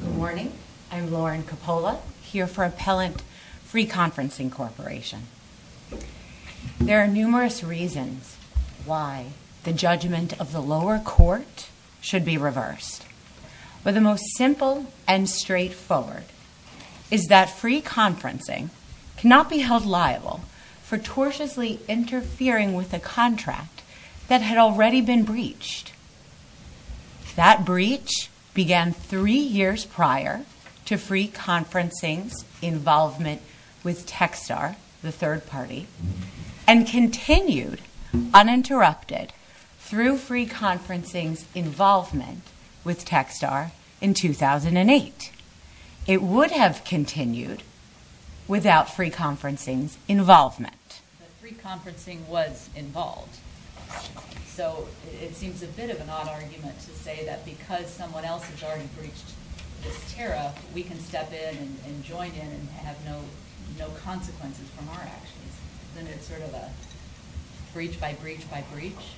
Good morning. I'm Lauren Coppola, here for Appellant Free Conferencing Corporation. There are numerous reasons why the judgment of the lower court should be reversed, but the most simple and straightforward is that free conferencing cannot be held liable for cautiously interfering with a contract that had already been breached. That breach began three years prior to Free Conferencing's involvement with Techstar, the third party, and continued uninterrupted through Free Conferencing's involvement with Techstar in 2008. It would have continued without Free Conferencing's involvement. But Free Conferencing was involved, so it seems a bit of an odd argument to say that because someone else has already breached this tariff, we can step in and join in and have no consequences from our actions. Isn't it sort of a breach by breach by breach?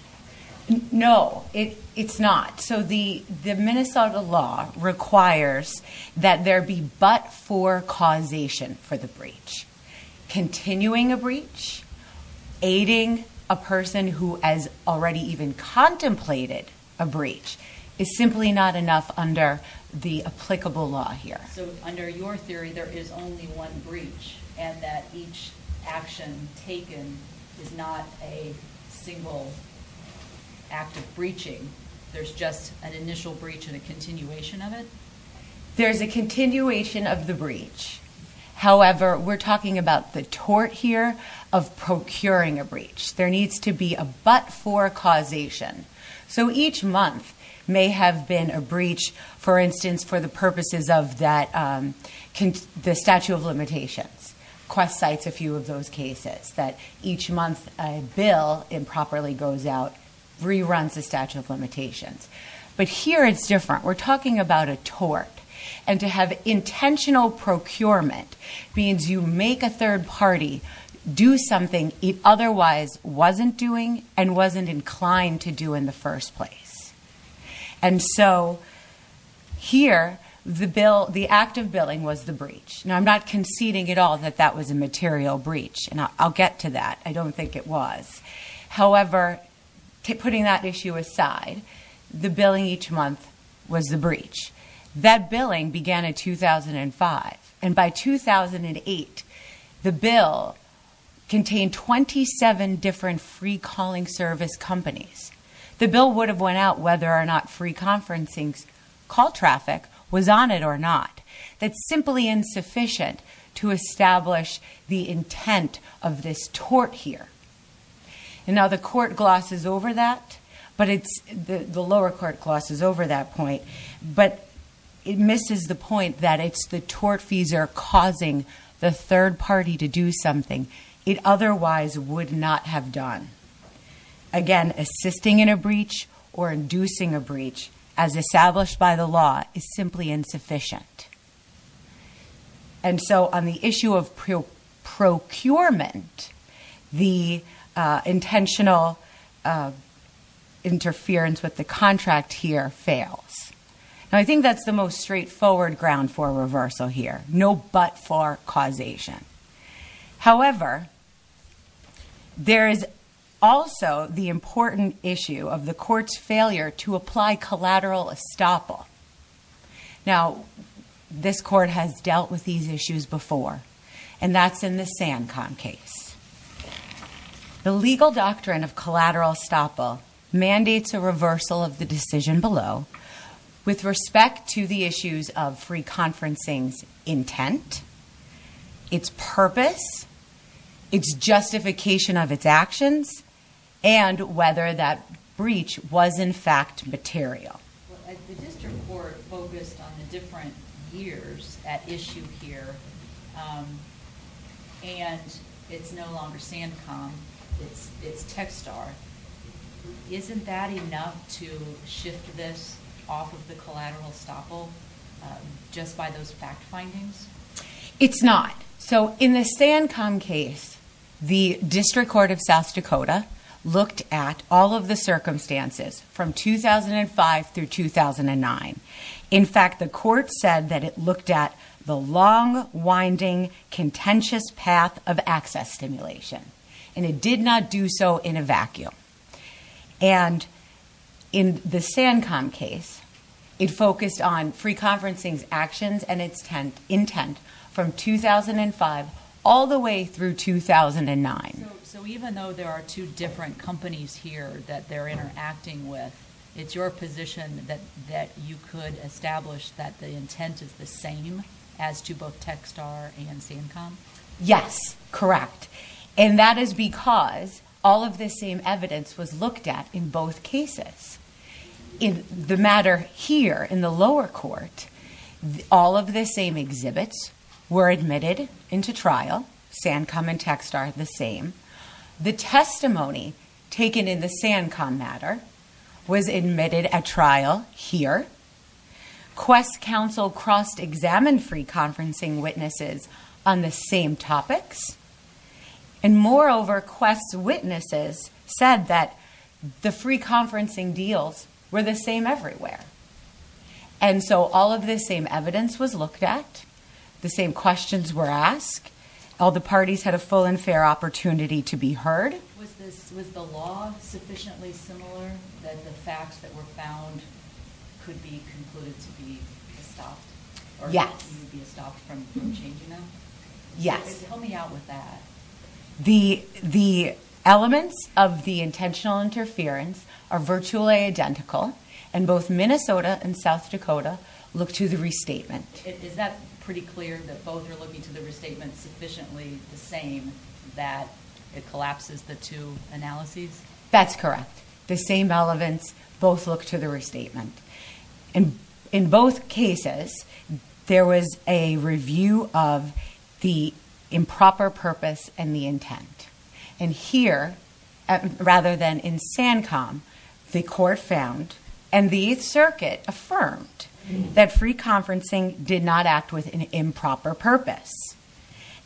No, it's not. The Minnesota law requires that there be but for causation for the breach. Continuing a breach, aiding a person who has already even contemplated a breach, is simply not enough under the applicable law here. So under your theory, there is only one breach, and that each action taken is not a single act of breaching. There's just an initial breach and a continuation of it? There's a continuation of the breach. However, we're talking about the tort here of procuring a breach. There needs to be a but for causation. So each month may have been a breach, for instance, for the purposes of the statute of limitations. Quest cites a few of those cases that each month a bill improperly goes out, reruns the statute of limitations. But here it's different. We're talking about a tort, and to have intentional procurement means you make a third party do something it otherwise wasn't doing and wasn't inclined to do in the first place. And so here, the act of billing was the breach. Now, I'm not conceding at all that that was a material breach, and I'll get to that. I don't think it was. However, putting that issue aside, the billing each month was the breach. That billing began in 2005, and by 2008, the bill contained 27 different free service companies. The bill would have went out whether or not free conferencing call traffic was on it or not. That's simply insufficient to establish the intent of this tort here. Now, the lower court glosses over that point, but it misses the point that it's the tortfeasor causing the third party to do something it otherwise would not have done. Again, assisting in a breach or inducing a breach, as established by the law, is simply insufficient. And so on the issue of procurement, the intentional interference with the contract here fails. Now, I think that's the most straightforward ground for reversal here, no but for causation. However, there is also the important issue of the court's failure to apply collateral estoppel. Now, this court has dealt with these issues before, and that's in the SanCon case. The legal doctrine of collateral estoppel mandates a reversal of the decision below with respect to the issues of free conferencing's intent, its purpose, its justification of its actions, and whether that breach was, in fact, material. The district court focused on the different years at issue here, and it's no longer SanCon. It's TechSTAR. Isn't that enough to shift this off of the collateral estoppel just by those fact findings? It's not. So in the SanCon case, the district court of South Dakota looked at all of the circumstances from 2005 through 2009. In fact, the court said that it looked at the long, winding, contentious path of access stimulation, and it did not do so in a focused on free conferencing's actions and its intent from 2005 all the way through 2009. So even though there are two different companies here that they're interacting with, it's your position that you could establish that the intent is the same as to both TechSTAR and SanCon? Yes, correct. And that is because all of the same evidence was looked at in both SanCon and TechSTAR. In the lower court, all of the same exhibits were admitted into trial. SanCon and TechSTAR are the same. The testimony taken in the SanCon matter was admitted at trial here. Quest Council cross-examined free conferencing witnesses on the same topics. And moreover, Quest's witnesses said that the free conferencing deals were the same everywhere. And so all of the same evidence was looked at. The same questions were asked. All the parties had a full and fair opportunity to be heard. Was the law sufficiently similar that the facts that were found could be concluded to be estopped? Yes. Or could be estopped from changing them? Yes. Help me out with that. The elements of the intentional interference are virtually identical. And both Minnesota and South Dakota look to the restatement. Is that pretty clear that both are looking to the restatement sufficiently the same that it collapses the two analyses? That's correct. The same elements both look to the restatement. In both cases, there was a review of the improper purpose and the intent. And here, rather than in SanCon, the court found and the 8th Circuit affirmed that free conferencing did not act with an improper purpose.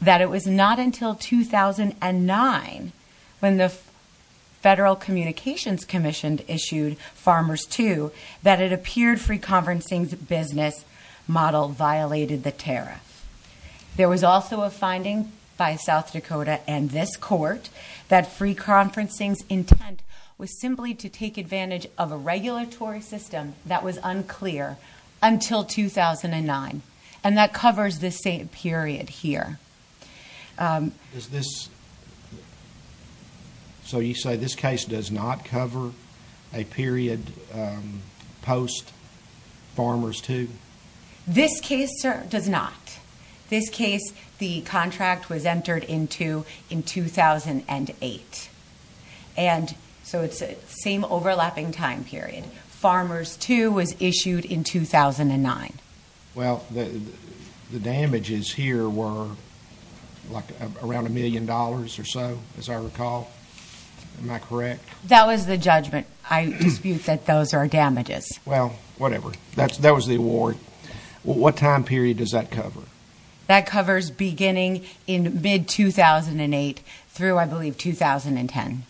That it was not until 2009 when the Federal Communications Commission issued Farmers II that it appeared free conferencing's business model violated the tariff. There was also a finding by South Dakota and this court that free conferencing's intent was simply to take advantage of a regulatory system that was unclear until 2009. And that covers this same period here. So you say this case does not cover a period post-Farmers II? This case does not. This case, the contract was entered into in 2008. And so it's the same overlapping time period. Farmers II was issued in 2009. Well, the damages here were around a million dollars or so, as I recall. Am I correct? That was the judgment. I dispute that those are damages. Well, whatever. That was the award. What time period does that cover? That covers beginning in mid-2008 through, I believe, 2010.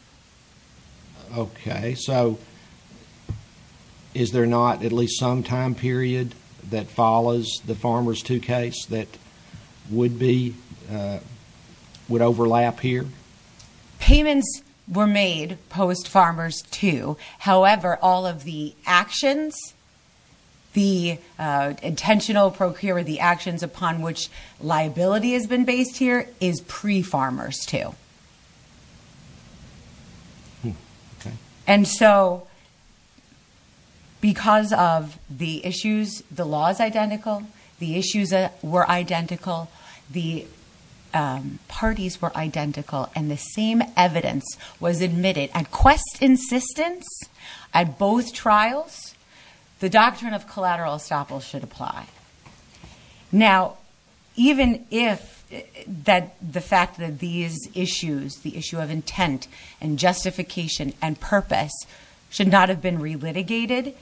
Okay. So is there not at least some time period that follows the Farmers II case that would overlap here? Payments were made post-Farmers II. However, all of the actions, the intentional procure or the actions upon which liability has been based here is pre-Farmers II. And so because of the issues, the law is identical. The issues were identical. The parties were identical. And the same evidence was admitted at both trials, the doctrine of collateral estoppel should apply. Now, even if the fact that these issues, the issue of intent and justification and purpose should not have been relitigated,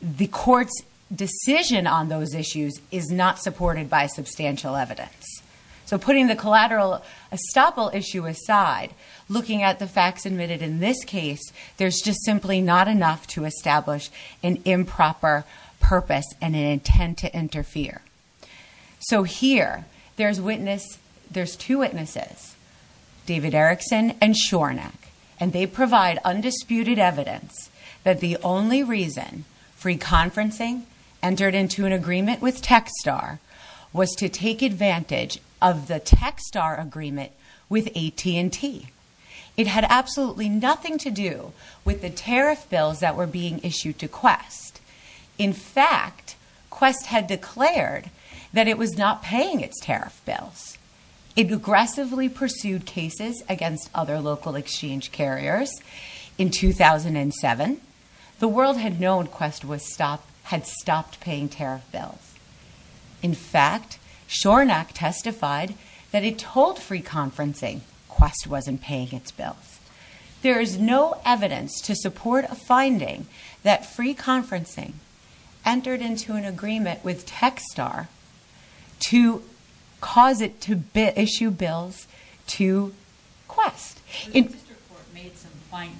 the court's decision on those issues is not supported by substantial evidence. So putting the collateral estoppel issue aside, looking at the facts admitted in this case, there's just simply not enough to establish an improper purpose and an intent to interfere. So here, there's two witnesses, David Erickson and Shornack. And they provide undisputed evidence that the only reason free conferencing entered into an agreement with Techstar was to take advantage of the Techstar agreement with AT&T. It had absolutely nothing to do with the tariff bills that were being issued to Quest. In fact, Quest had declared that it was not paying its tariff bills. It aggressively pursued cases against other local exchange carriers. In 2007, the world had known Quest had stopped paying tariff bills. In fact, Shornack testified that it told free conferencing Quest wasn't paying its bills. There is no evidence to support a finding that free conferencing entered into an agreement with Techstar to cause it to issue bills to Quest. The district court made some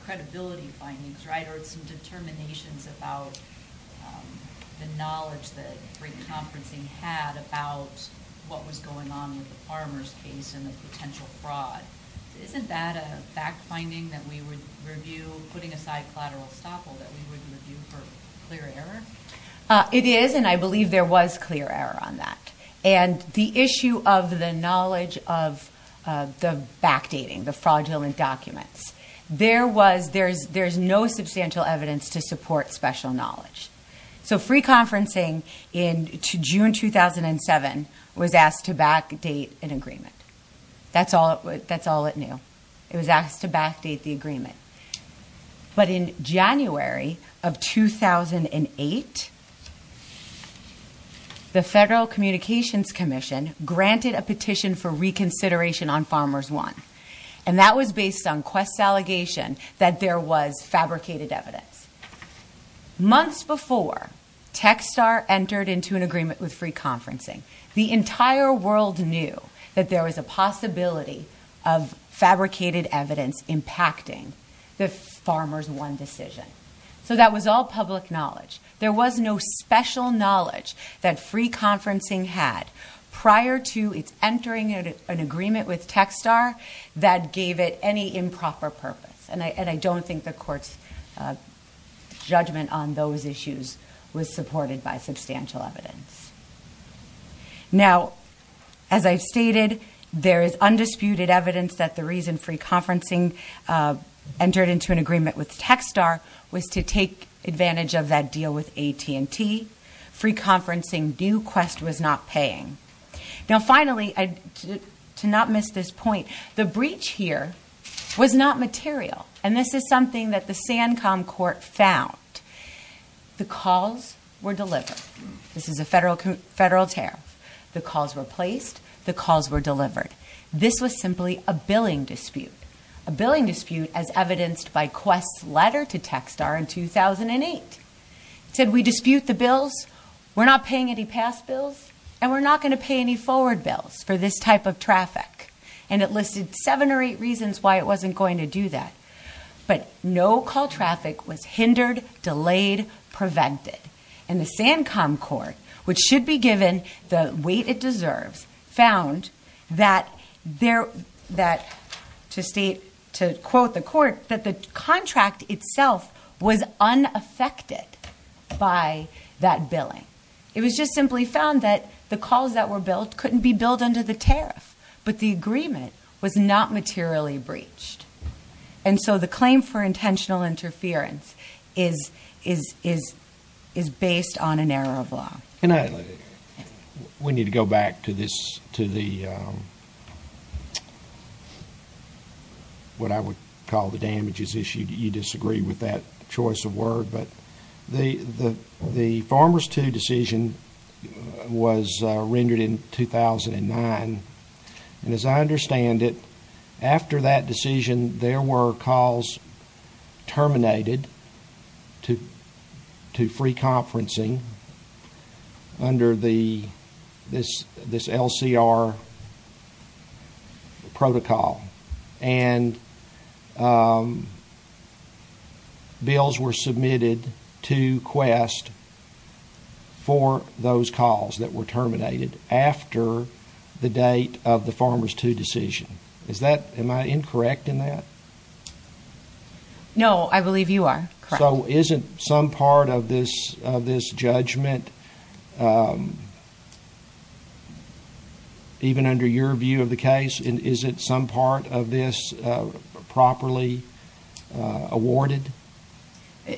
credibility findings or some determinations about the knowledge that free conferencing had about what was going on with the farmers case and the potential fraud. Isn't that a fact finding that we would review, putting aside collateral estoppel, that we would review for clear error? It is, and I believe there was clear error on that. The issue of the knowledge of the backdating, the fraudulent documents, there is no substantial evidence to support special knowledge. Free conferencing in June 2007 was asked to backdate an agreement. That's all it knew. It was asked to backdate the agreement. But in January of 2008, the Federal Communications Commission granted a petition for reconsideration on Farmers 1, and that was based on Quest's allegation that there was fabricated evidence. Months before Techstar entered into an agreement with free conferencing, the entire world knew that there was a possibility of fabricated evidence impacting the Farmers 1 decision. So that was all public knowledge. There was no special knowledge that free conferencing had prior to its entering an agreement with Techstar that gave it any improper purpose. And I don't think the Court's judgment on those issues was supported by substantial evidence. Now, as I've stated, there is undisputed evidence that the reason free conferencing entered into an agreement with Techstar was to take advantage of that deal with AT&T. Free conferencing knew Quest was not paying. Now, finally, to not miss this point, the breach here was not material. And this is something that the Sancom Court found. The calls were delivered. This is a federal tariff. The calls were placed. The calls were delivered. This was simply a billing dispute, a billing dispute as evidenced by Quest's letter to Techstar in 2008. It said, we dispute the bills, we're not paying any past bills, and we're not going to pay any forward bills for this type of traffic. And it listed seven or eight reasons why it wasn't going to do that. But no call traffic was hindered, delayed, prevented. And the Sancom Court, which should be given the weight it deserves, found that to quote the court, that the contract itself was unaffected by that billing. It was just simply found that the calls that were billed couldn't be billed under the tariff, but the agreement was not materially breached. And so the claim for intentional interference is based on an error of law. And we need to go back to the what I would call the damages issue. You disagree with that choice of word, but the Farmers II decision was rendered in 2009. And as I understand it, after that decision, there were calls terminated to free conferencing under this LCR protocol. And bills were submitted to Quest for those calls that were terminated after the date of the Farmers II decision. Am I incorrect in that? No, I believe you are correct. So isn't some part of this judgment, even under your view of the case, isn't some part of this properly awarded?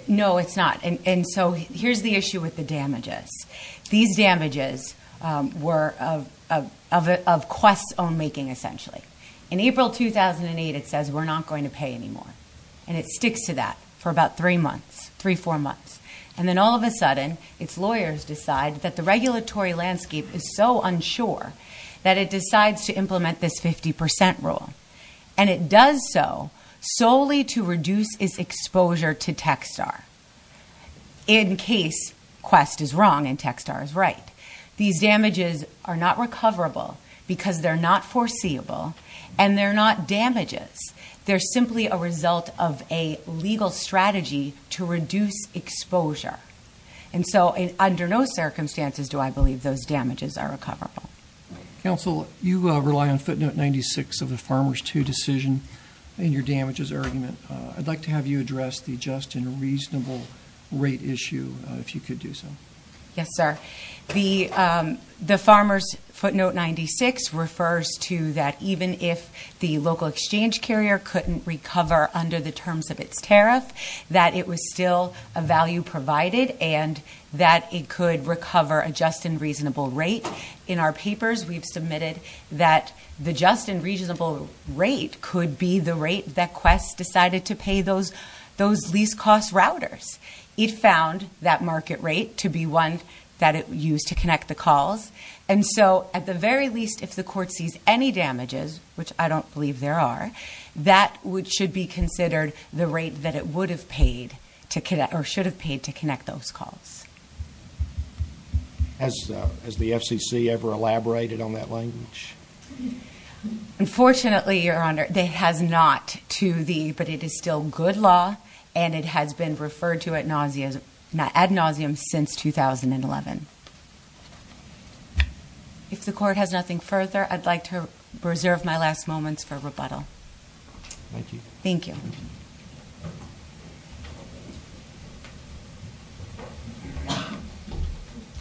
No, it's not. And so here's the issue with the damages. These damages were of Quest's own making, essentially. In April 2008, it says we're not going to pay anymore. And it sticks to that for about three, four months. And then all of a sudden, its lawyers decide that the regulatory landscape is so unsure that it decides to implement this 50% rule. And it does so solely to reduce its exposure to TechSTAR, in case Quest is wrong and TechSTAR is right. These damages are not recoverable because they're not foreseeable, and they're not damages. They're simply a result of a legal strategy to reduce exposure. And so under no circumstances do I believe those damages are recoverable. Counsel, you rely on footnote 96 of the Farmers II decision in your damages argument. I'd like to have you address the just and reasonable rate issue, if you could do so. Yes, sir. The Farmers footnote 96 refers to that even if the local exchange carrier couldn't recover under the terms of its tariff, that it was still a value provided, and that it could recover a just and reasonable rate. In our papers, we've submitted that the just and reasonable rate could be the rate that Quest decided to pay those lease cost routers. It found that market rate to be one that it used to connect the calls. And so at the very least, if the court sees any damages, which I don't believe there are, that should be considered the rate that it would have paid or should have paid to connect those calls. Has the FCC ever elaborated on that language? Unfortunately, Your Honor, it has not, but it is still good law, and it has been referred to ad nauseum since 2011. If the court has nothing further, I'd like to reserve my last moments for rebuttal. Thank you.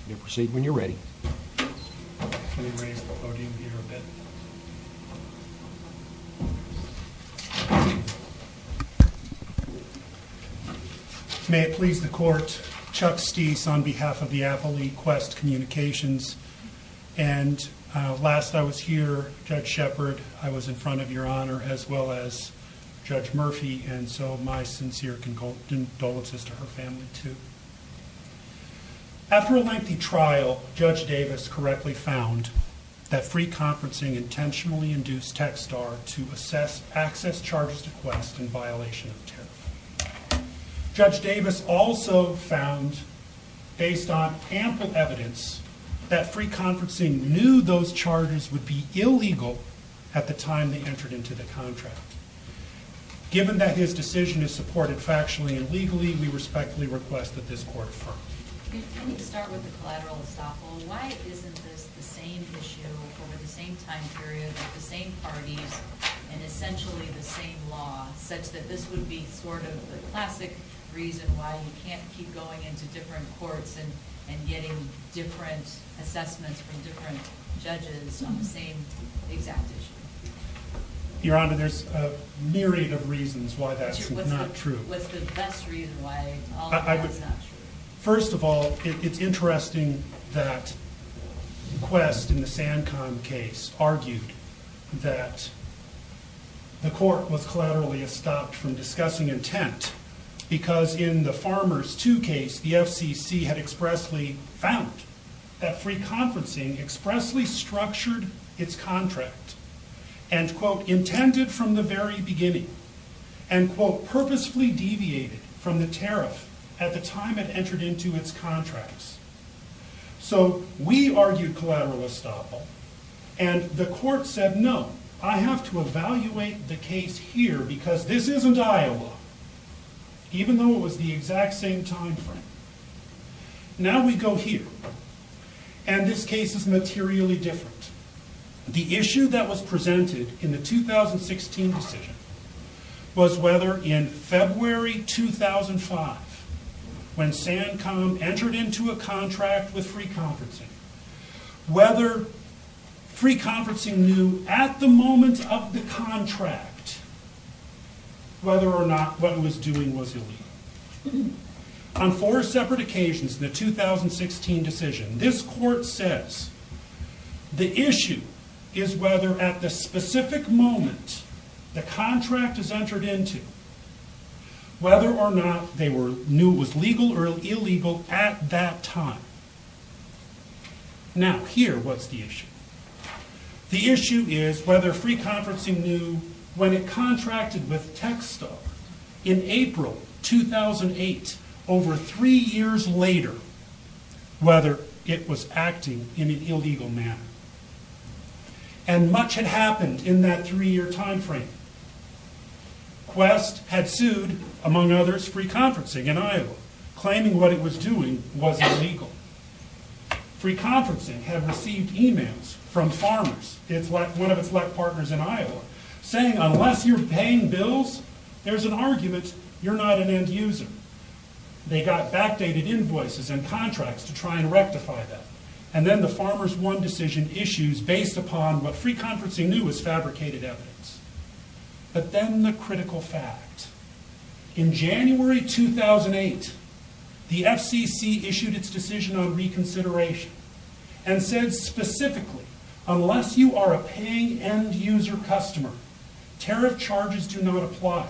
You may proceed when you're ready. May it please the court, Chuck Sties on behalf of the Apple Lead Quest Communications, and last I was here, Judge Shepard, I was in front of Your Honor as well as Judge Murphy, and so my sincere condolences to her family too. After a lengthy trial, Judge Davis correctly found that free conferencing intentionally induced Techstar to assess access charges to Quest in violation of tariff. Judge Davis also found, based on ample evidence, that free conferencing knew those charges would be illegal at the time they entered into the contract. Given that his decision is supported factually and legally, we respectfully request that this court affirm. I need to start with the collateral estoppel. Why isn't this the same issue over the same time period with the same parties and essentially the same law, such that this would be sort of the classic reason why you can't keep going into different courts and getting different assessments from different judges on the same exact issue? Your Honor, there's a myriad of reasons why that's not true. What's the best reason why all of that is not true? First of all, it's interesting that Quest in the SanCon case argued that the court was collaterally estopped from discussing intent because in the Farmers 2 case, the FCC had expressly found that free conferencing expressly structured its contract and, quote, intended from the very beginning and, quote, purposefully deviated from the tariff at the time it entered into its contracts. So we argued collateral estoppel and the court said, no, I have to evaluate the case here because this isn't Iowa, even though it was the exact same time frame. Now we go here, and this case is materially different. The issue that was presented in the 2016 decision was whether in February 2005, when SanCon entered into a contract with free conferencing, whether free conferencing knew at the moment of the contract whether or not what it was doing was illegal. On four separate occasions in the 2016 decision, this court says the issue is whether at the specific moment the contract is entered into, whether or not they knew it was legal or illegal at that time. Now, here, what's the issue? The issue is whether free conferencing knew when it contracted with TechStar in April 2008, over three years later, whether it was acting in an illegal manner. And much had happened in that three-year time frame. Quest had sued, among others, free conferencing in Iowa, claiming what it was doing wasn't legal. Free conferencing had received emails from Farmers, one of its lack partners in Iowa, saying unless you're paying bills, there's an argument you're not an end user. They got backdated invoices and contracts to try and rectify that. And then the Farmers, one decision issues based upon what free conferencing knew was fabricated evidence. But then the critical fact. In January 2008, the FCC issued its decision on reconsideration and said specifically, unless you are a paying end user customer, tariff charges do not apply.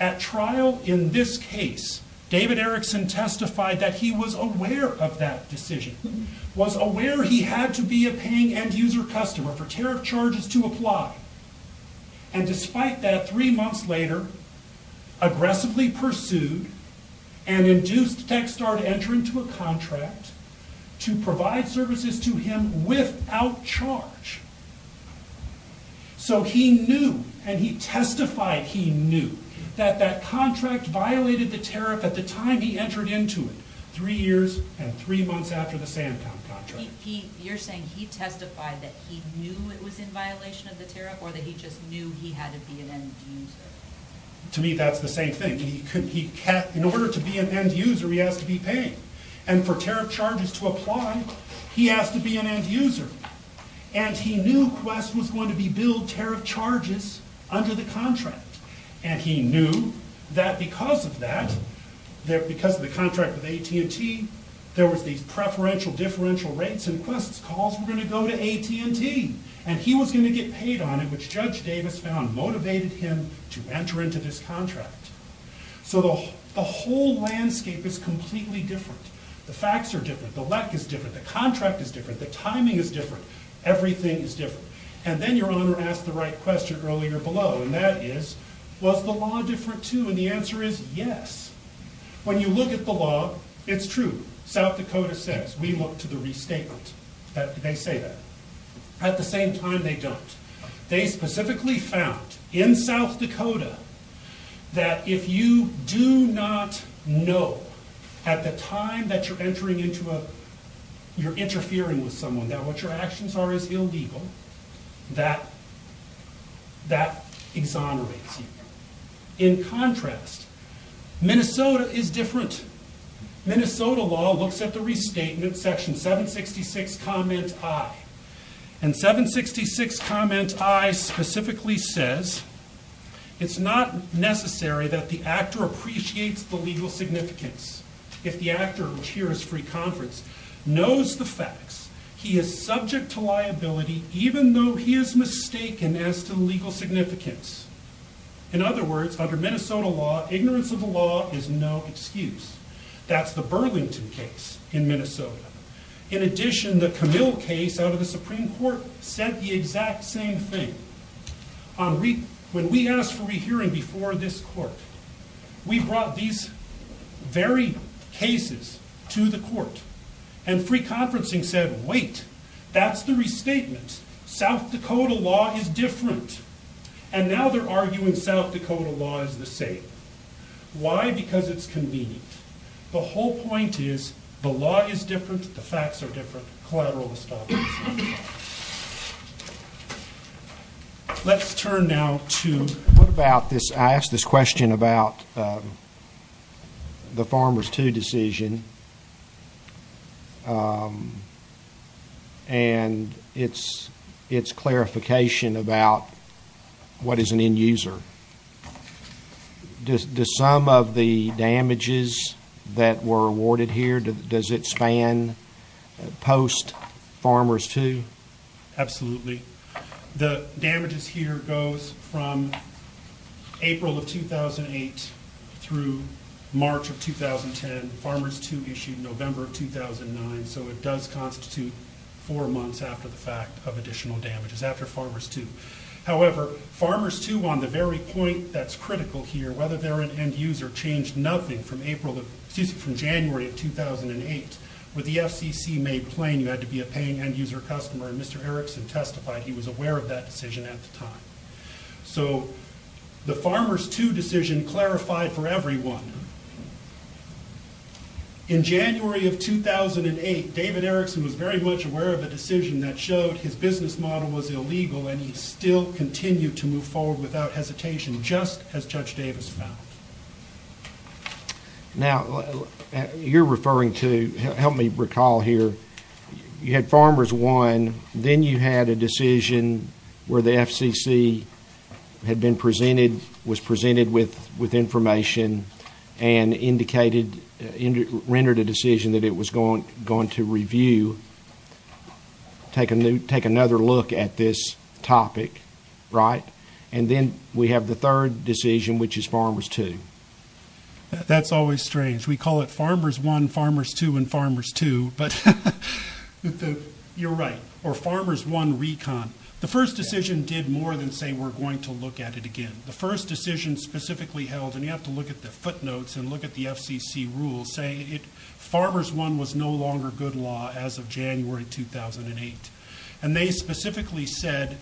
At trial in this case, David Erickson testified that he was aware of that decision. Was aware he had to be a paying end user customer for tariff charges to apply. And despite that, three months later, aggressively pursued and induced TechStar to enter into a contract to provide services to him without charge. So he knew, and he testified he knew, that that contract violated the tariff at the time he entered into it, three years and three months after the Sandtown contract. You're saying he testified that he knew it was in violation of the tariff, or that he just knew he had to be an end user? To me, that's the same thing. In order to be an end user, he has to be paying. And for tariff charges to apply, he has to be an end user. And he knew Quest was going to be billed tariff charges under the contract. And he knew that because of that, because of the contract with AT&T, there was these preferential differential rates and Quest's calls were going to go to AT&T. And he was going to get paid on it, which Judge Davis found motivated him to enter into this contract. So the whole landscape is completely different. The facts are different. The lek is different. The contract is different. The timing is different. Everything is different. And then your Honor asked the right question earlier below, and that is, was the law different too? And the answer is yes. When you look at the law, it's true. South Dakota says, we look to the restatement. They say that. At the same time, they don't. They specifically found in South Dakota that if you do not know at the time that you're interfering with someone, that what your actions are is illegal, that exonerates you. In contrast, Minnesota is different. Minnesota law looks at the restatement, section 766, comment I. And 766 comment I specifically says, it's not necessary that the actor appreciates the legal significance. If the actor, which here is free conference, knows the facts, he is subject to liability even though he is mistaken as to legal significance. In other words, under Minnesota law, ignorance of the law is no excuse. That's the Burlington case in Minnesota. In addition, the Camille case out of the Supreme Court said the exact same thing. When we asked for a hearing before this court, we brought these very cases to the court. And free conferencing said, wait, that's the restatement. South Dakota law is different. And now they're arguing South Dakota law is the same. Why? Because it's convenient. The whole point is the law is different, the facts are different, collateral is different. Let's turn now to what about this? I asked this question about the farmer's two decision. And it's clarification about what is an end user. Does some of the damages that were awarded here, does it span post-farmer's two? Absolutely. The damages here goes from April of 2008 through March of 2010. Farmer's two issued November of 2009. So it does constitute four months after the fact of additional damages after farmer's two. However, farmer's two on the very point that's critical here, whether they're an end user changed nothing from January of 2008. With the FCC made plain you had to be a paying end user customer, and Mr. Erickson testified he was aware of that decision at the time. So the farmer's two decision clarified for everyone. In January of 2008, David Erickson was very much aware of the decision that showed his business model was illegal and he still continued to move forward without hesitation, just as Judge Davis found. Now, you're referring to, help me recall here, you had farmer's one, then you had a decision where the FCC had been presented, was presented with information, and indicated, rendered a decision that it was going to review, take another look at this topic, right? And then we have the third decision, which is farmer's two. That's always strange. We call it farmer's one, farmer's two, and farmer's two, but you're right. Or farmer's one recon. The first decision did more than say we're going to look at it again. The first decision specifically held, and you have to look at the footnotes and look at the FCC rules, say farmer's one was no longer good law as of January 2008. And they specifically said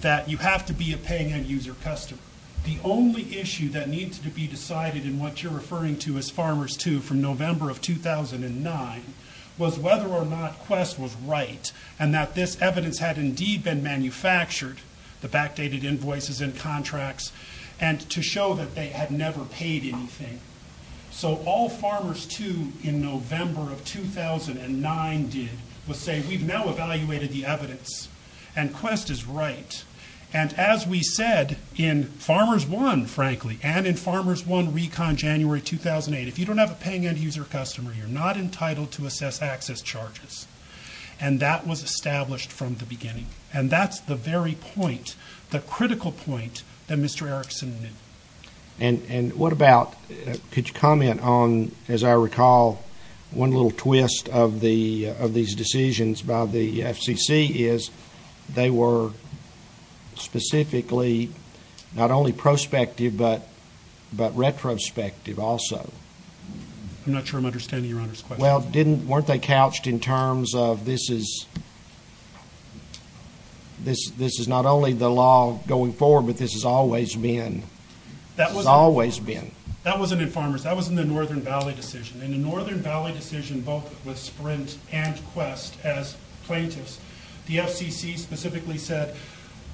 that you have to be a paying end user customer. The only issue that needs to be decided in what you're referring to as farmer's two from November of 2009 was whether or not Quest was right and that this evidence had indeed been manufactured, the backdated invoices and contracts, and to show that they had never paid anything. So all farmer's two in November of 2009 did was say we've now evaluated the evidence and Quest is right. And as we said in farmer's one, frankly, and in farmer's one recon January 2008, if you don't have a paying end user customer, you're not entitled to assess access charges. And that was established from the beginning. And that's the very point, the critical point that Mr. Erickson knew. And what about, could you comment on, as I recall, one little twist of these decisions by the FCC is they were specifically not only prospective but retrospective also. I'm not sure I'm understanding Your Honor's question. Well, weren't they couched in terms of this is not only the law going forward, but this has always been. That wasn't in farmer's. That was in the Northern Valley decision. In the Northern Valley decision, both with Sprint and Quest as plaintiffs, the FCC specifically said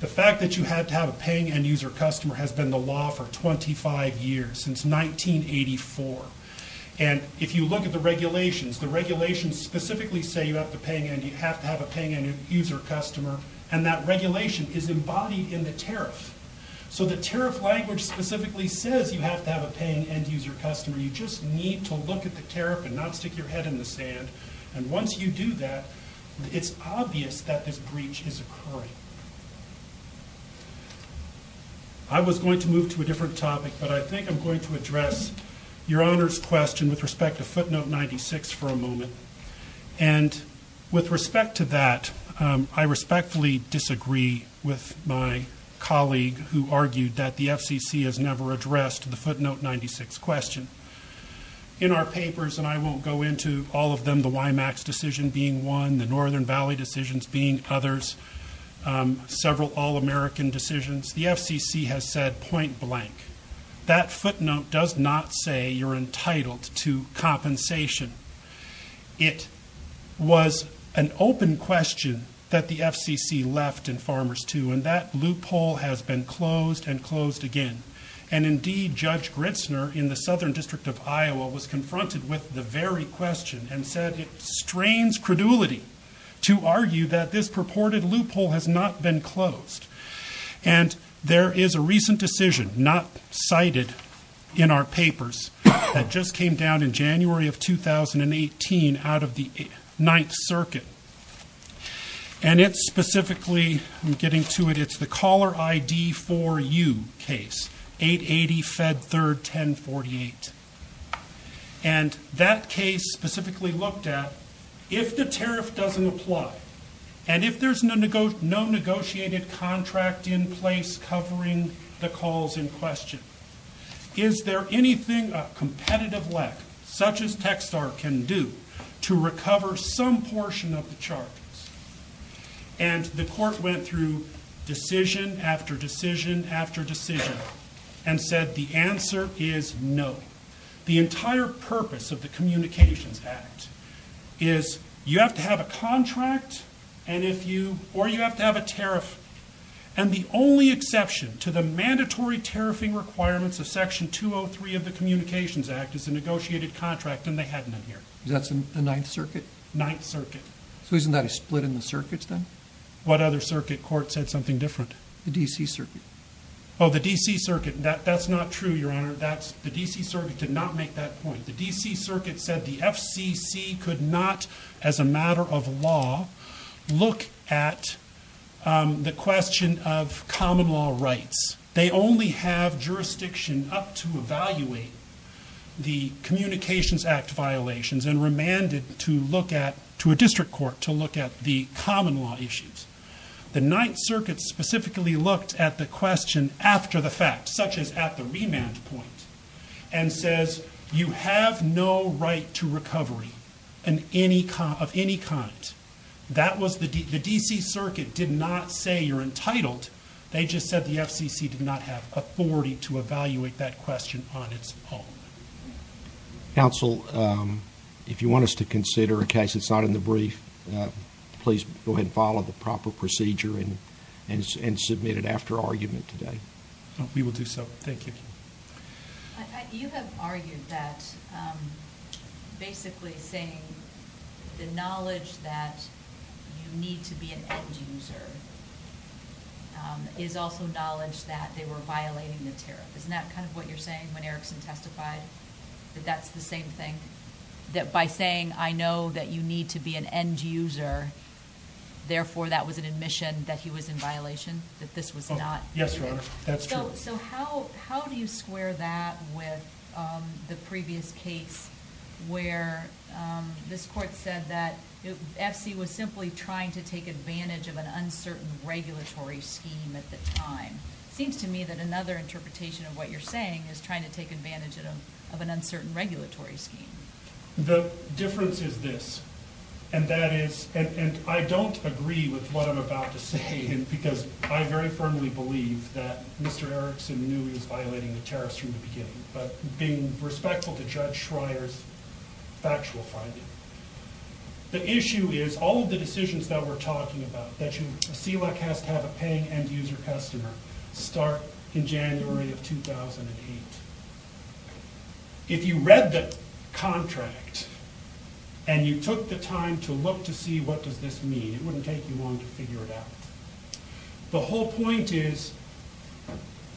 the fact that you had to have a paying end user customer has been the law for 25 years, since 1984. And if you look at the regulations, the regulations specifically say you have to have a paying end user customer, and that regulation is embodied in the tariff. So the tariff language specifically says you have to have a paying end user customer. You just need to look at the tariff and not stick your head in the sand. And once you do that, it's obvious that this breach is occurring. I was going to move to a different topic, but I think I'm going to address Your Honor's question with respect to footnote 96 for a moment. And with respect to that, I respectfully disagree with my colleague who argued that the FCC has never addressed the footnote 96 question. In our papers, and I won't go into all of them, the WIMAX decision being one, the Northern Valley decisions being others, several all-American decisions, the FCC has said point blank. That footnote does not say you're entitled to compensation. It was an open question that the FCC left in Farmers To. And that loophole has been closed and closed again. And indeed, Judge Gritzner in the Southern District of Iowa was confronted with the very question and said it strains credulity to argue that this purported loophole has not been closed. And there is a recent decision not cited in our papers that just came down in January of 2018 out of the Ninth Circuit. And it's specifically, I'm getting to it, it's the caller ID for you case, 880 Fed 3rd 1048. And that case specifically looked at if the tariff doesn't apply and if there's no negotiated contract in place covering the calls in question, is there anything a competitive leg such as Techstar can do to recover some portion of the charges? And the court went through decision after decision after decision and said the answer is no. The entire purpose of the Communications Act is you have to have a contract or you have to have a tariff. And the only exception to the mandatory tariffing requirements of Section 203 of the Communications Act is a negotiated contract and they hadn't been here. That's the Ninth Circuit? Ninth Circuit. So isn't that a split in the circuits then? What other circuit court said something different? The D.C. Circuit. Oh, the D.C. Circuit. That's not true, Your Honor. The D.C. Circuit did not make that point. The D.C. Circuit said the FCC could not, as a matter of law, look at the question of common law rights. They only have jurisdiction up to evaluate the Communications Act violations and remanded to look at, to a district court, to look at the common law issues. The Ninth Circuit specifically looked at the question after the fact, such as at the remand point, and says you have no right to recovery of any kind. The D.C. Circuit did not say you're entitled. They just said the FCC did not have authority to evaluate that question on its own. Counsel, if you want us to consider, in case it's not in the brief, please go ahead and follow the proper procedure and submit it after argument today. We will do so. Thank you. You have argued that basically saying the knowledge that you need to be an end user is also knowledge that they were violating the tariff. Isn't that kind of what you're saying when Erickson testified, that that's the same thing? That by saying I know that you need to be an end user, therefore that was an admission that he was in violation, that this was not? Yes, Your Honor. That's true. So how do you square that with the previous case where this court said that FC was simply trying to take advantage of an uncertain regulatory scheme at the time? It seems to me that another interpretation of what you're saying is trying to take advantage of an uncertain regulatory scheme. The difference is this, and that is, and I don't agree with what I'm about to say because I very firmly believe that Mr. Erickson knew he was violating the tariffs from the beginning, but being respectful to Judge Schreier's factual finding. The issue is, all of the decisions that we're talking about, that CELAC has to have a paying end user customer, start in January of 2008. If you read the contract and you took the time to look to see what does this mean, it wouldn't take you long to figure it out. The whole point is,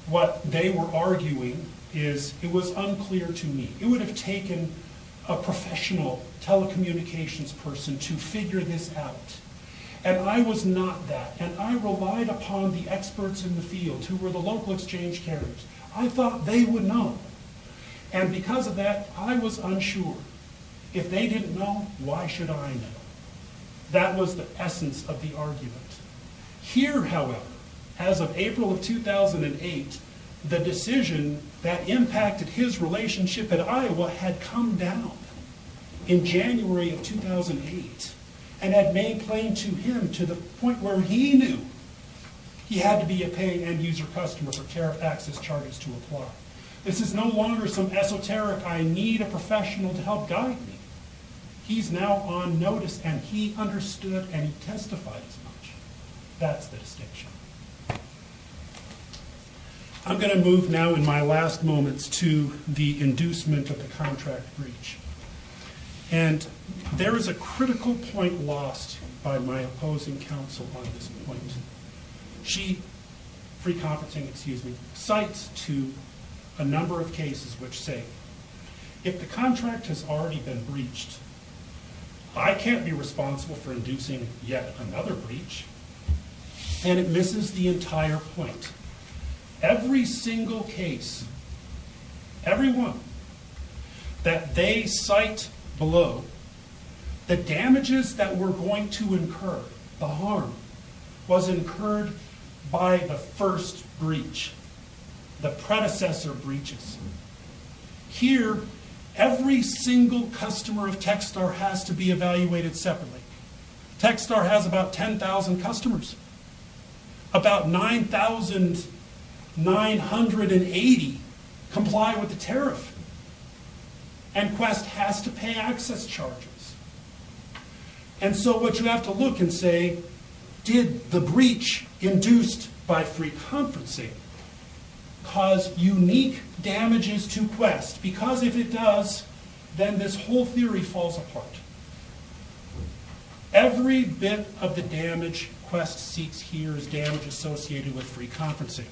what they were arguing is, it was unclear to me. It would have taken a professional telecommunications person to figure this out. And I was not that, and I relied upon the experts in the field who were the local exchange carriers. I thought they would know. And because of that, I was unsure. If they didn't know, why should I know? That was the essence of the argument. Here, however, as of April of 2008, the decision that impacted his relationship at Iowa had come down in January of 2008, and had made plain to him to the point where he knew he had to be a paying end user customer for tariff access charges to apply. This is no longer some esoteric, I need a professional to help guide me. He's now on notice, and he understood, and he testified as much. That's the distinction. I'm going to move now in my last moments to the inducement of the contract breach. And there is a critical point lost by my opposing counsel on this point. She, free conferencing, excuse me, cites to a number of cases which say, if the contract has already been breached, I can't be responsible for inducing yet another breach. And it misses the entire point. Every single case, every one, that they cite below, the damages that were going to incur, the harm, was incurred by the first breach, the predecessor breaches. Here, every single customer of Techstar has to be evaluated separately. Techstar has about 10,000 customers. About 9,980 comply with the tariff. And Quest has to pay access charges. And so what you have to look and say, did the breach induced by free conferencing cause unique damages to Quest? Because if it does, then this whole theory falls apart. Every bit of the damage Quest seeks here is damage associated with free conferencing.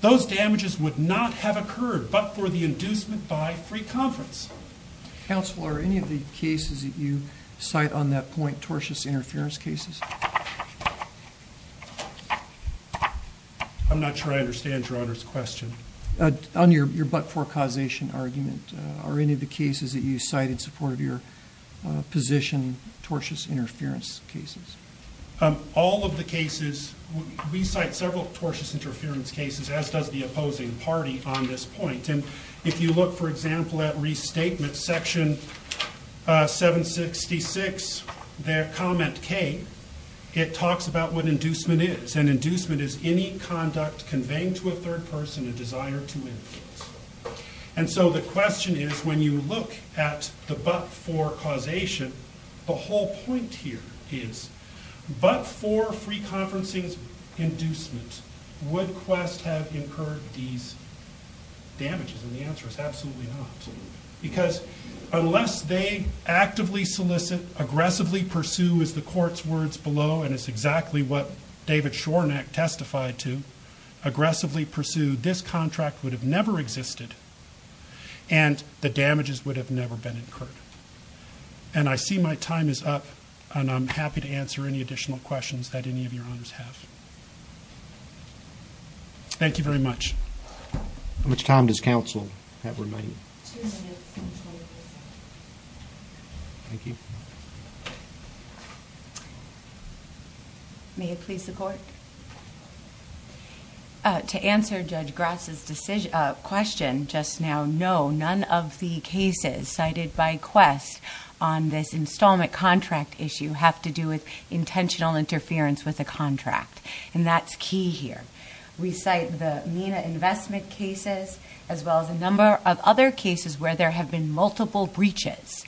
Those damages would not have occurred but for the inducement by free conference. Counsel, are any of the cases that you cite on that point tortious interference cases? I'm not sure I understand Your Honor's question. On your but-for causation argument, are any of the cases that you cite in support of your position tortious interference cases? All of the cases, we cite several tortious interference cases, as does the opposing party on this point. If you look, for example, at restatement section 766, their comment K, it talks about what inducement is. And inducement is any conduct conveying to a third person a desire to influence. And so the question is, when you look at the but-for causation, the whole point here is, but for free conferencing's inducement, would Quest have incurred these damages? And the answer is absolutely not. Because unless they actively solicit, aggressively pursue, as the court's words below, and it's exactly what David Shorenac testified to, aggressively pursue, this contract would have never existed and the damages would have never been incurred. And I see my time is up, and I'm happy to answer any additional questions that any of your honors have. Thank you very much. How much time does counsel have remaining? Two minutes and 24 seconds. Thank you. May it please the court? To answer Judge Grass's question just now, no, none of the cases cited by Quest on this installment contract issue have to do with intentional interference with the contract. And that's key here. We cite the MENA investment cases, as well as a number of other cases where there have been multiple breaches.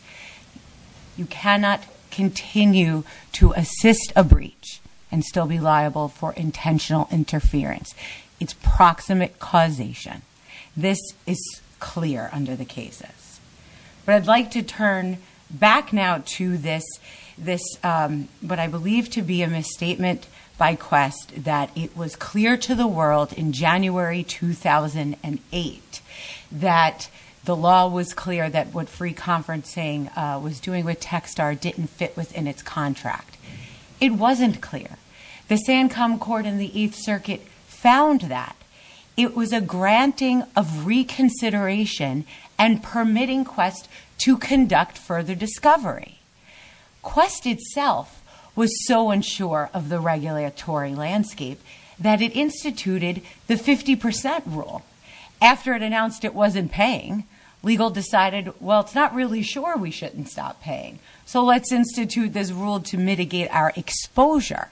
You cannot continue to assist a breach and still be liable for intentional interference. It's proximate causation. This is clear under the cases. But I'd like to turn back now to this, what I believe to be a misstatement by Quest, that it was clear to the world in January 2008 that the law was clear that what free conferencing was doing with Techstar didn't fit within its contract. It wasn't clear. The Sancom Court in the Eighth Circuit found that. It was a granting of reconsideration and permitting Quest to conduct further discovery. Quest itself was so unsure of the regulatory landscape that it instituted the 50% rule. After it announced it wasn't paying, legal decided, well, it's not really sure we shouldn't stop paying, so let's institute this rule to mitigate our exposure.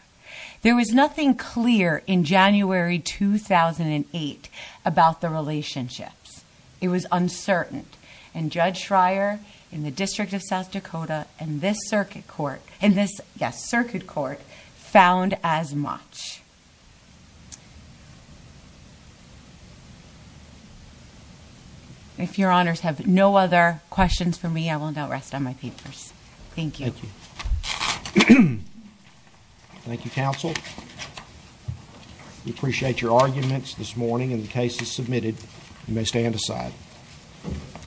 There was nothing clear in January 2008 about the relationships. It was uncertain. And Judge Schreier in the District of South Dakota in this circuit court found as much. If your honors have no other questions for me, I will now rest on my papers. Thank you. Thank you. Thank you, counsel. We appreciate your arguments this morning and the cases submitted. You may stand aside.